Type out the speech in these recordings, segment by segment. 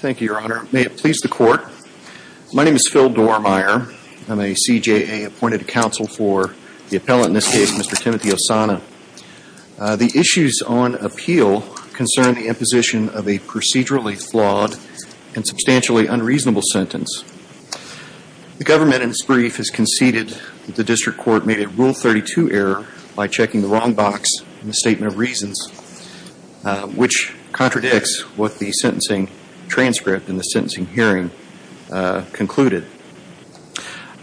Thank you, your honor. May it please the court. My name is Phil Dormier. I'm a CJA appointed counsel for the appellant in this case, Mr. Timothy Ossana. The issues on appeal concern the imposition of a procedurally flawed and substantially unreasonable sentence. The government in this brief has conceded that the district court made a Rule 32 error by checking the wrong box in the statement of reasons, which contradicts what the sentencing transcript in the sentencing hearing concluded.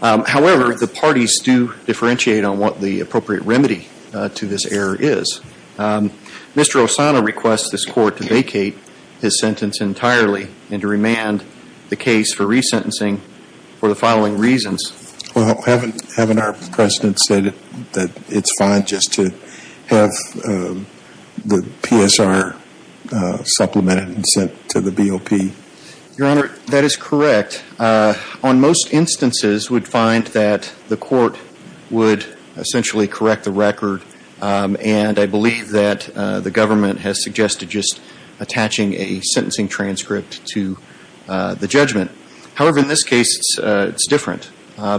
However, the parties do differentiate on what the appropriate remedy to this error is. Mr. Ossana requests this court to vacate his sentence entirely and to remand the case for resentencing for the following reasons. Well, haven't our precedents stated that it's fine just to have the PSR supplemented and sent to the BOP? Your honor, that is correct. On most instances, we'd find that the court would essentially correct the record, and I believe that the government has suggested just attaching a to the judgment. However, in this case, it's different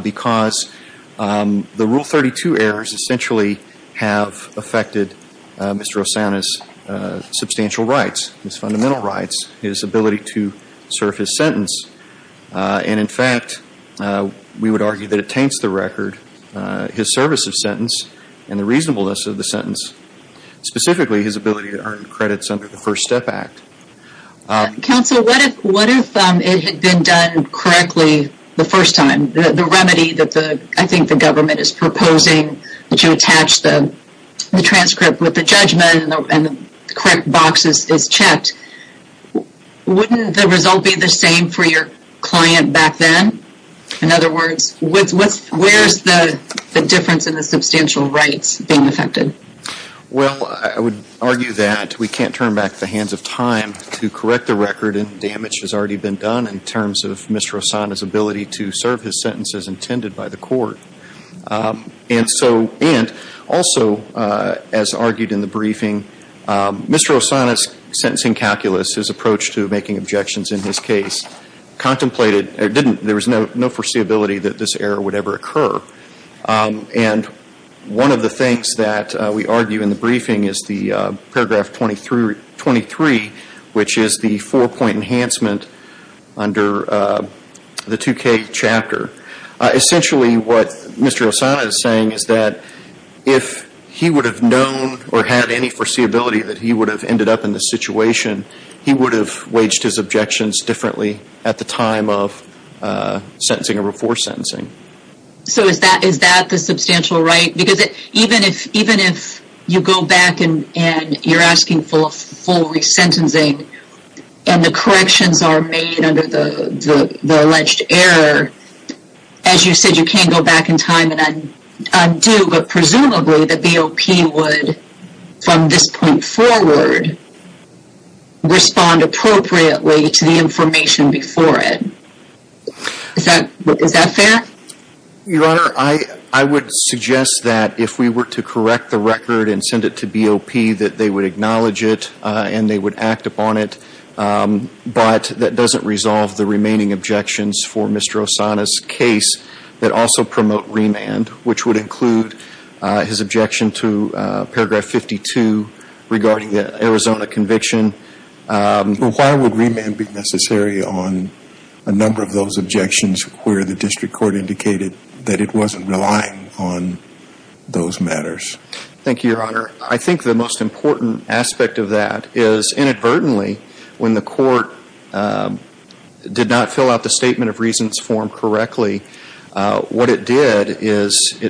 because the Rule 32 errors essentially have affected Mr. Ossana's substantial rights, his fundamental rights, his ability to serve his sentence. And in fact, we would argue that it taints the record, his service of sentence, and the reasonableness of the sentence, specifically his ability to earn credits under the First Step Act. Counsel, what if it had been done correctly the first time? The remedy that I think the government is proposing, that you attach the transcript with the judgment and the correct box is checked, wouldn't the result be the same for your client back then? In other words, where's the difference in the substantial rights being affected? Well, I would argue that we can't turn back the hands of time to correct the record, and damage has already been done in terms of Mr. Ossana's ability to serve his sentence as intended by the court. And also, as argued in the briefing, Mr. Ossana's sentencing calculus, his approach to making objections in his case, contemplated, there was no foreseeability that this error would ever occur. And one of the things that we argue in the briefing is the paragraph 23, which is the four-point enhancement under the 2K chapter. Essentially, what Mr. Ossana is saying is that if he would have known or had any foreseeability that he would have ended up in this situation, he would have waged his objections differently at the time of sentencing or before sentencing. So is that the substantial right? Because even if you go back and you're asking for full resentencing, and the corrections are made under the alleged error, as you said, you can't go back in time and undo, but presumably the BOP would, from this point forward, respond appropriately to the information before it. Is that fair? Your Honor, I would suggest that if we were to correct the record and send it to BOP, that they would acknowledge it and they would act upon it, but that doesn't resolve the remaining objections for Mr. Ossana's case that also promote remand, which would include his objection to paragraph 52 regarding the Arizona conviction. But why would remand be necessary on a number of those objections where the district court indicated that it wasn't relying on those matters? Thank you, Your Honor. I think the most important aspect of that is, inadvertently, when the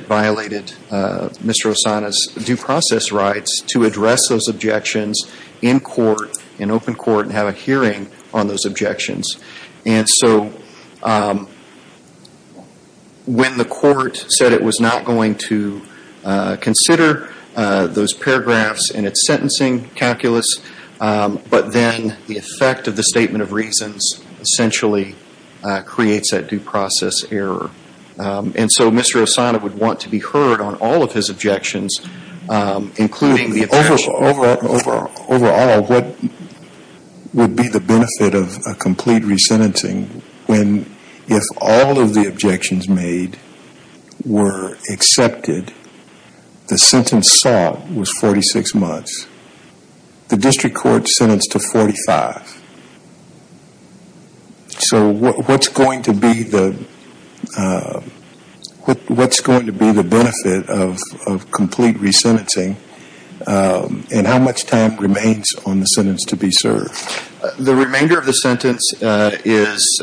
violated Mr. Ossana's due process rights to address those objections in court, in open court, and have a hearing on those objections. And so when the court said it was not going to consider those paragraphs in its sentencing calculus, but then the effect of the statement of reasons essentially creates that due process error. And so Mr. Ossana would want to be heard on all of his objections, including the objection Overall, what would be the benefit of a complete resentencing when, if all of the objections made were accepted, the sentence sought was 46 months, the district court sentenced to What's going to be the benefit of complete resentencing? And how much time remains on the sentence to be served? The remainder of the sentence is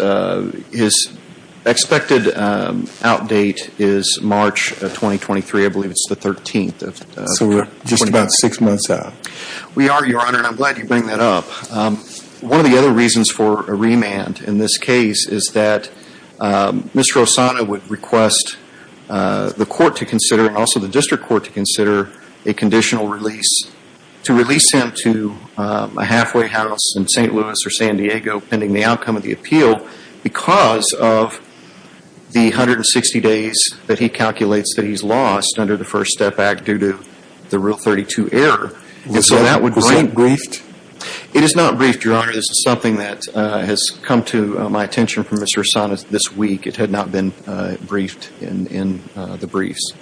expected out date is March of 2023. I believe it's the 13th. So we're just about six months out. We are, Your Honor. I'm glad you bring that up. One of the other reasons for a remand in this case is that Mr. Ossana would request the court to consider, and also the district court to consider, a conditional release, to release him to a halfway house in St. Louis or San Diego pending the outcome of the appeal because of the 160 days that he calculates that he's lost under the First Step Act due to the Rule 32 error, and so that would Was that briefed? It is not briefed, Your Honor. This is something that has come to my attention from Mr. Ossana this week. It had not been briefed in the briefs.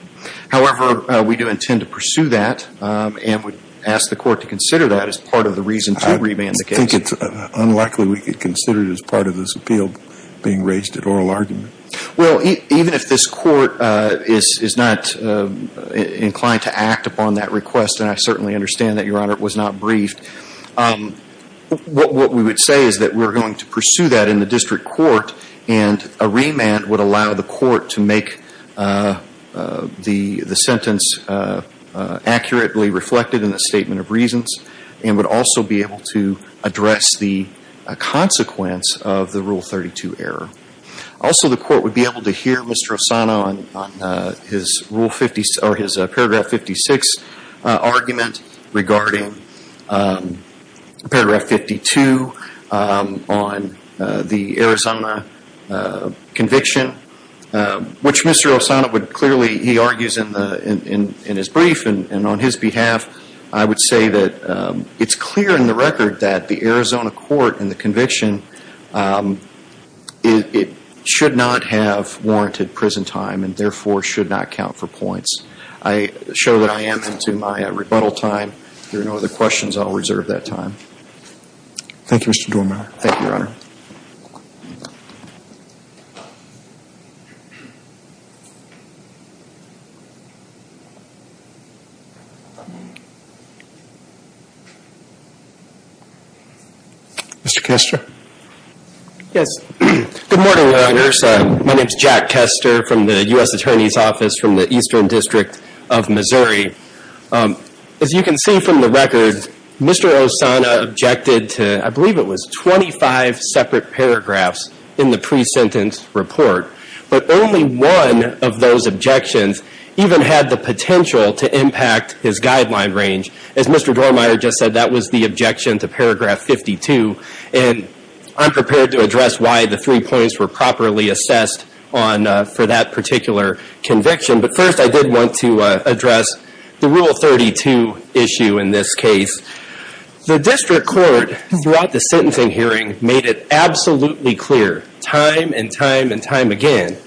However, we do intend to pursue that and would ask the court to consider that as part of the reason to remand the case. I think it's unlikely we could consider it as part of this appeal being raised at oral argument. Well, even if this court is not inclined to act upon that request, and I certainly understand that, Your Honor, it was not briefed, what we would say is that we're going to pursue that in the district court, and a remand would allow the court to make the sentence accurately reflected in the statement of reasons and would also be able to address the consequence of the Rule 32 error. Also the court would be able to hear Mr. Ossana on his Rule 56, or his Paragraph 56 argument regarding Paragraph 52 on the Arizona conviction, which Mr. Ossana would clearly, he argues in his brief, and on his behalf, I would say that it's clear in the record that the Arizona court in the conviction, it should not have warranted prison time and therefore should not count for points. I show that I am into my rebuttal time. If there are no other questions, I'll reserve that time. Thank you, Mr. Doorman. Thank you, Your Honor. Mr. Kester? Yes. Good morning, Your Honors. My name is Jack Kester from the U.S. Attorney's Office from the Eastern District of Missouri. As you can see from the record, Mr. Ossana objected to, I believe it was 25 separate paragraphs in the pre-sentence report, but only one of those objections even had the potential to impact his guideline range. As Mr. Doorman just said, that was the objection to Paragraph 52, and I'm prepared to address why the three points were properly assessed for that particular conviction, but first I did want to address the Rule 32 issue in this case. The district court, throughout the sentencing hearing, made it absolutely clear time and time again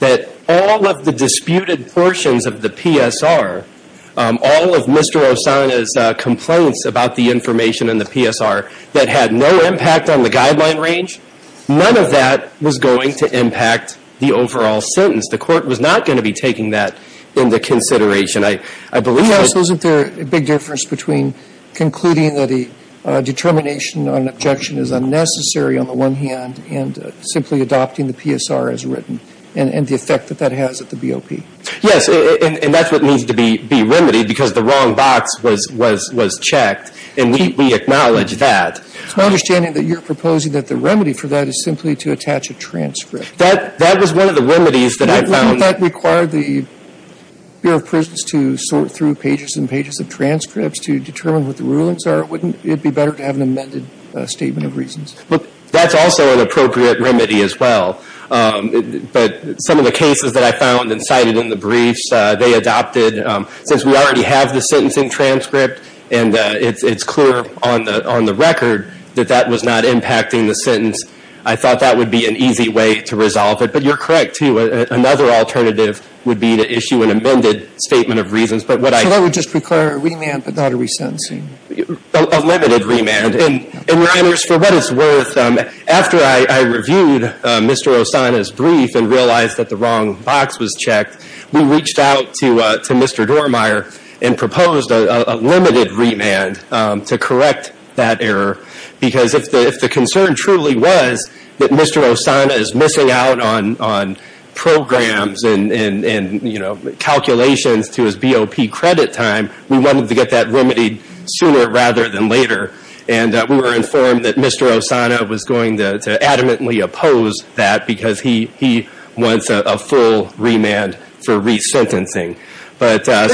that all of the disputed portions of the PSR, all of Mr. Ossana's complaints about the information in the PSR that had no impact on the guideline range, none of that was going to impact the overall sentence. The court was not going to be taking that into consideration. I believe that Yes, wasn't there a big difference between concluding that a determination on an objection is unnecessary on the one hand, and simply adopting the PSR as written, and the effect that that has at the BOP? Yes, and that's what needs to be remedied because the wrong box was checked, and we acknowledge that. It's my understanding that you're proposing that the remedy for that is simply to attach a transcript. That was one of the remedies that I found Wouldn't that require the Bureau of Prisons to sort through pages and pages of transcripts to determine what the rulings are? Wouldn't it be better to have an amended statement of reasons? That's also an appropriate remedy as well, but some of the cases that I found and cited in the briefs, they adopted, since we already have the sentencing transcript, and it's clear on the record that that was not impacting the sentence, I thought that would be an easy way to resolve it, but you're correct too. Another alternative would be to issue an amended statement of reasons, but what I So that would just require a remand, but not a resentencing? A limited remand, and, Your Honors, for what it's worth, after I reviewed Mr. Osana's brief and realized that the wrong box was checked, we reached out to Mr. Dormeyer and proposed a limited remand to correct that error because if the concern truly was that it was a limited time, we wanted to get that remedied sooner rather than later, and we were informed that Mr. Osana was going to adamantly oppose that because he wants a full remand for resentencing. As I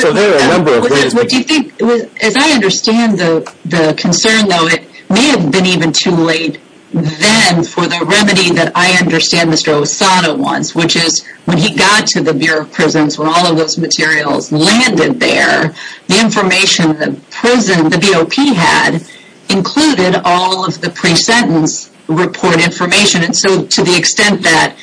understand the concern, though, it may have been even too late then for the remedy that I understand Mr. Osana wants, which is when he got to the Bureau of Prisons when all of those materials landed there, the information the BOP had included all of the pre-sentence report information, and so to the extent that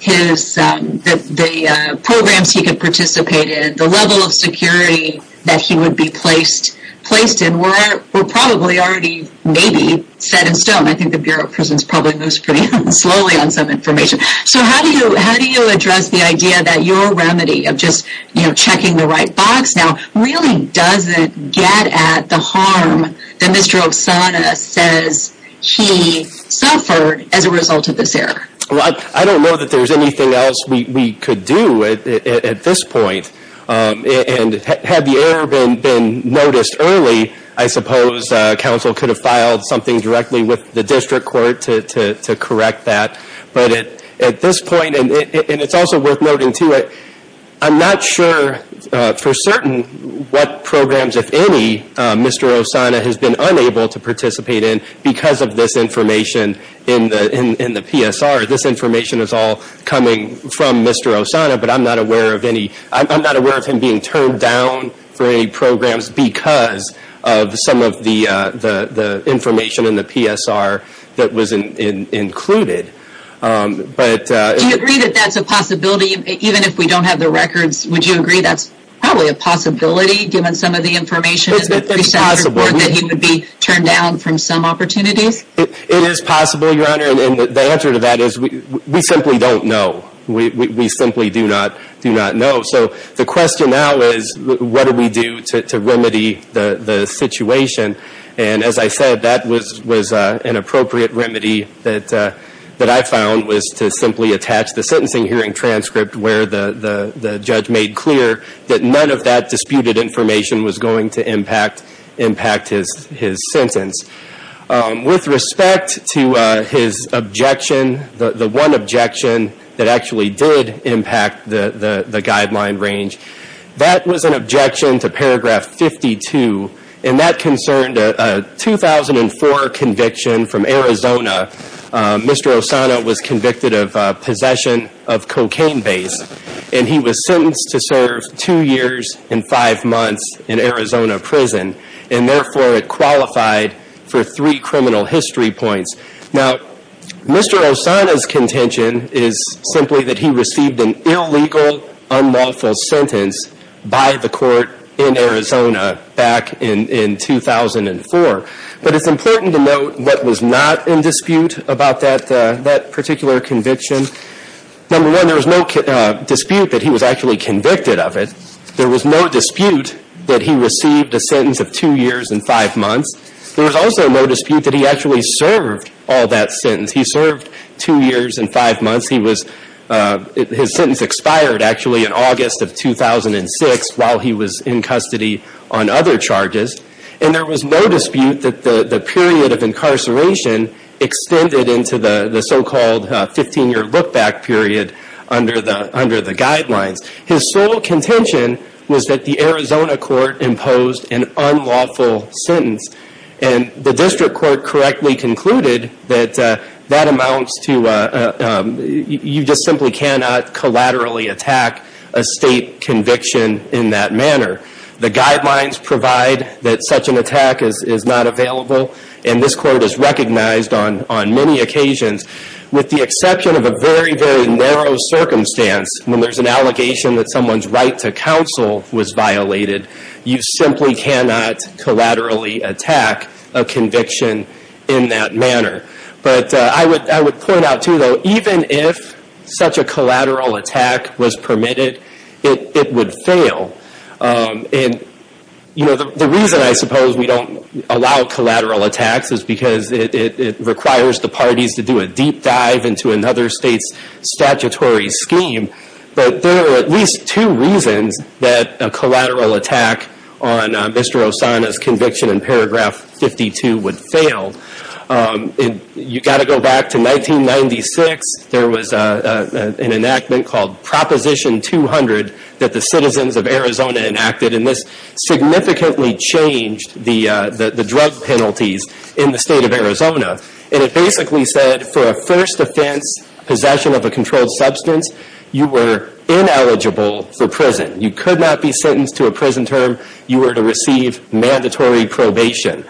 the programs he could participate in, the level of security that he would be placed in, were probably already maybe set in stone. I think the Bureau of Prisons probably moves pretty slowly on some information. So how do you address the idea that your remedy of just checking the right box now really doesn't get at the harm that Mr. Osana says he suffered as a result of this error? I don't know that there's anything else we could do at this point. Had the error been noticed early, I suppose counsel could have filed something directly with the district court to correct that. But at this point, and it's also worth noting too, I'm not sure for certain what programs, if any, Mr. Osana has been unable to participate in because of this information in the PSR. This information is all coming from Mr. Osana, but I'm not aware of him being turned down for any programs because of some of the information in the PSR that was included. Do you agree that that's a possibility? Even if we don't have the records, would you agree that's probably a possibility given some of the information in the pre-sentence report that he would be turned down from some opportunities? It is possible, Your Honor, and the answer to that is we simply don't know. We simply do not know. So the question now is what do we do to remedy the situation? And as I said, that was an appropriate remedy that I found was to simply attach the sentencing hearing transcript where the judge made clear that none of that disputed information was going to impact his sentence. With respect to his objection, the one objection that actually did impact the guideline range, that was an objection to paragraph 52, and that concerned a 2004 conviction from Arizona. Mr. Osana was convicted of possession of cocaine base, and he was sentenced to serve two years and five months in Arizona prison, and therefore it qualified for three criminal history points. Now, Mr. Osana's contention is simply that he received an illegal, unlawful sentence by the court in Arizona back in 2004. But it's important to note what was not in dispute about that particular conviction. Number one, there was no dispute that he was actually convicted of it. There was no dispute that he received a sentence of two years and five months. There was also no dispute that he actually served all that sentence. He served two years and five months. His sentence expired, actually, in August of 2006 while he was in custody on other charges. And there was no dispute that the period of incarceration extended into the so-called 15-year look-back period under the guidelines. His sole contention was that the Arizona court imposed an unlawful sentence, and the district court correctly concluded that that amounts to, you just simply cannot collaterally attack a state conviction in that manner. The guidelines provide that such an attack is not available, and this quote is recognized on many occasions, with the exception of a very, very narrow circumstance. When there's an allegation that someone's right to counsel was violated, you simply cannot collaterally attack a conviction in that manner. But I would point out, too, though, even if such a collateral attack was permitted, it would fail. And, you know, the reason I suppose we don't allow collateral attacks is because it requires the parties to do a deep dive into another state's statutory scheme. But there are at least two reasons that a collateral attack on Mr. Osana's conviction in paragraph 52 would fail. You've got to go back to 1996. There was an enactment called Proposition 200 that the citizens of Arizona enacted, and this significantly changed the drug penalties in the state of Arizona. And it basically said for a first offense, possession of a controlled substance, you were ineligible for prison. You could not be sentenced to a prison term. You were to receive mandatory probation.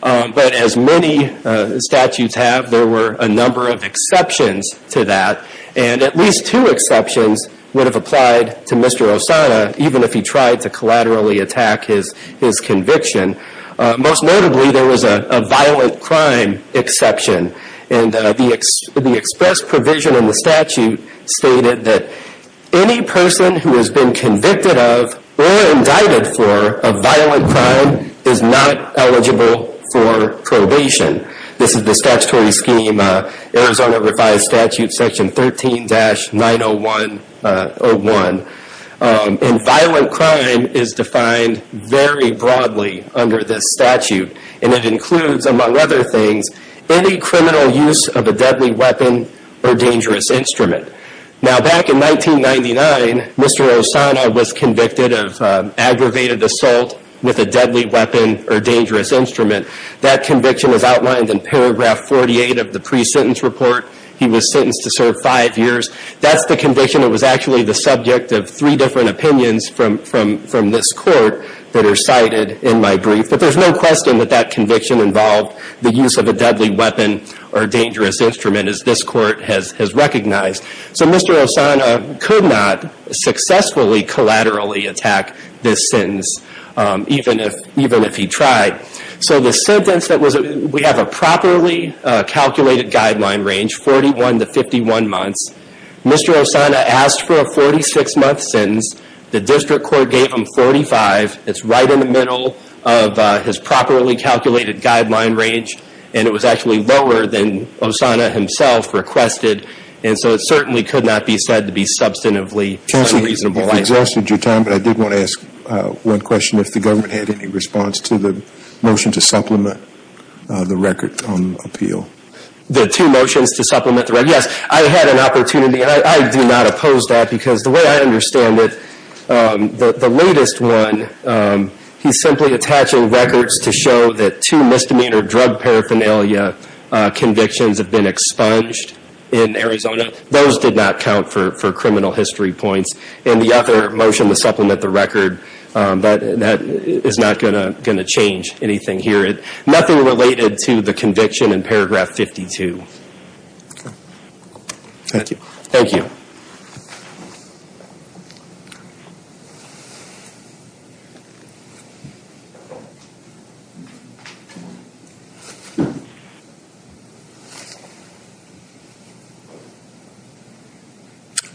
But as many statutes have, there were a number of exceptions to that. And at least two exceptions would have applied to Mr. Osana, even if he tried to collaterally attack his conviction. Most notably, there was a violent crime exception. And the express provision in the statute stated that any person who has been convicted of or indicted for a violent crime is not eligible for probation. This is the statutory scheme, Arizona Revised Statute Section 13-90101. And violent crime is defined very broadly under this statute. And it includes, among other things, any criminal use of a deadly weapon or dangerous instrument. Now back in 1999, Mr. Osana was convicted of aggravated assault with a deadly weapon or dangerous instrument. That conviction is outlined in paragraph 48 of the pre-sentence report. He was sentenced to serve five years. That's the conviction that was actually the subject of three different opinions from this court that are cited in my brief. But there's no question that that conviction involved the use of a deadly weapon or dangerous instrument, as this court has recognized. So Mr. Osana could not successfully collaterally attack this sentence, even if he tried. So the sentence that was, we have a properly calculated guideline range, 41 to 51 months. Mr. Osana asked for a 46 month sentence. The district court gave him 45. It's right in the middle of his properly calculated guideline range. And it was actually lower than Osana himself requested. And so it certainly could not be said to be substantively unreasonable. Counselor, you've exhausted your time, but I did want to ask one question. If the government had any response to the motion to supplement the record on appeal. The two motions to supplement the record. Yes, I had an opportunity. I do not oppose that because the way I understand it, the latest one, he's simply attaching records to show that two misdemeanor drug paraphernalia convictions have been expunged in Arizona. Those did not count for criminal history points. And the other motion to supplement the record, that is not going to change anything here. Nothing related to the conviction in paragraph 52. Thank you. Thank you.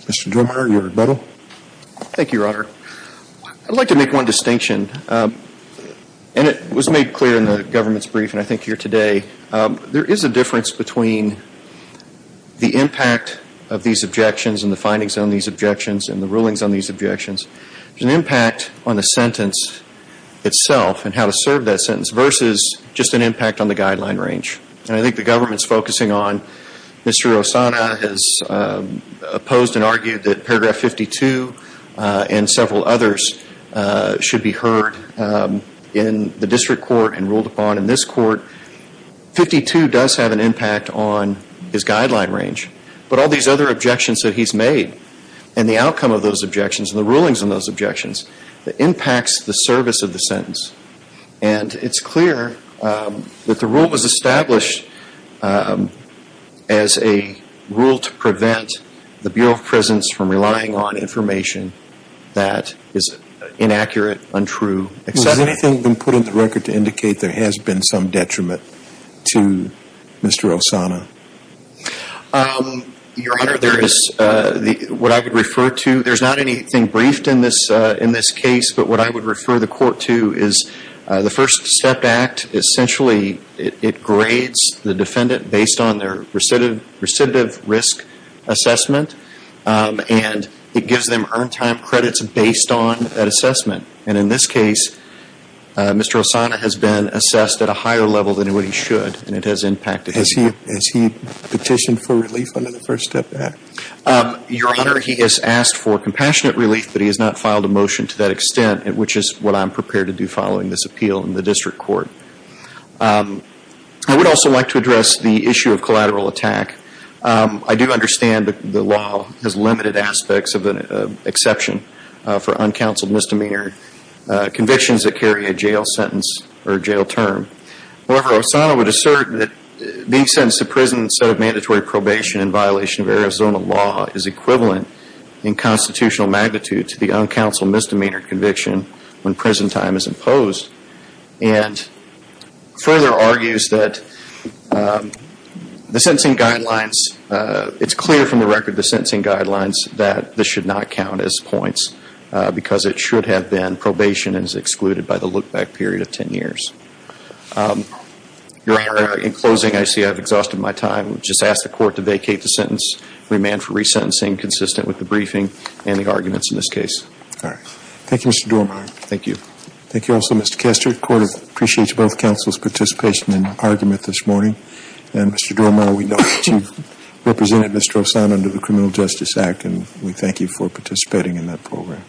Mr. Drumer, your rebuttal. Thank you, Your Honor. I'd like to make one distinction. And it was made clear in the government's brief and I think here today. There is a difference between the impact of these objections and the findings on these objections and the rulings on these objections. There's an impact on the sentence itself and how to serve that sentence versus just an impact on the guideline range. And I think the government's focusing on Mr. Rossana has opposed and argued that paragraph 52 and several others should be heard in the district court and ruled upon in this court. 52 does have an impact on his objections and the rulings on those objections. It impacts the service of the sentence. And it's clear that the rule was established as a rule to prevent the Bureau of Prisons from relying on information that is inaccurate, untrue, etc. Has anything been put in the record to indicate there has been some detriment to Mr. Rossana? Your Honor, what I would refer to, there's not anything briefed in this case, but what I would refer the court to is the First Step Act. Essentially, it grades the defendant based on their recidivist risk assessment and it gives them earn time credits based on that assessment. And in this case, Mr. Rossana has been assessed at a higher level than what he should and it has impacted him. Has he petitioned for relief under the First Step Act? Your Honor, he has asked for compassionate relief, but he has not filed a motion to that extent, which is what I'm prepared to do following this appeal in the district court. I would also like to address the issue of collateral attack. I do understand the law has limited aspects of an exception for uncounseled misdemeanor convictions that carry a jail term. However, Rossana would assert that being sentenced to prison instead of mandatory probation in violation of Arizona law is equivalent in constitutional magnitude to the uncounseled misdemeanor conviction when prison time is imposed and further argues that the sentencing guidelines, it's clear from the record, the sentencing guidelines that this should not Your Honor, in closing, I see I've exhausted my time. I would just ask the court to vacate the sentence, remand for resentencing consistent with the briefing and the arguments in this case. Thank you, Mr. Dormeyer. Thank you. Thank you also, Mr. Kestert. The court appreciates both counsel's participation in the argument this morning. And Mr. Dormeyer, we know that you've represented Mr. Rossana under the Criminal Justice Act and we thank you for participating in that program.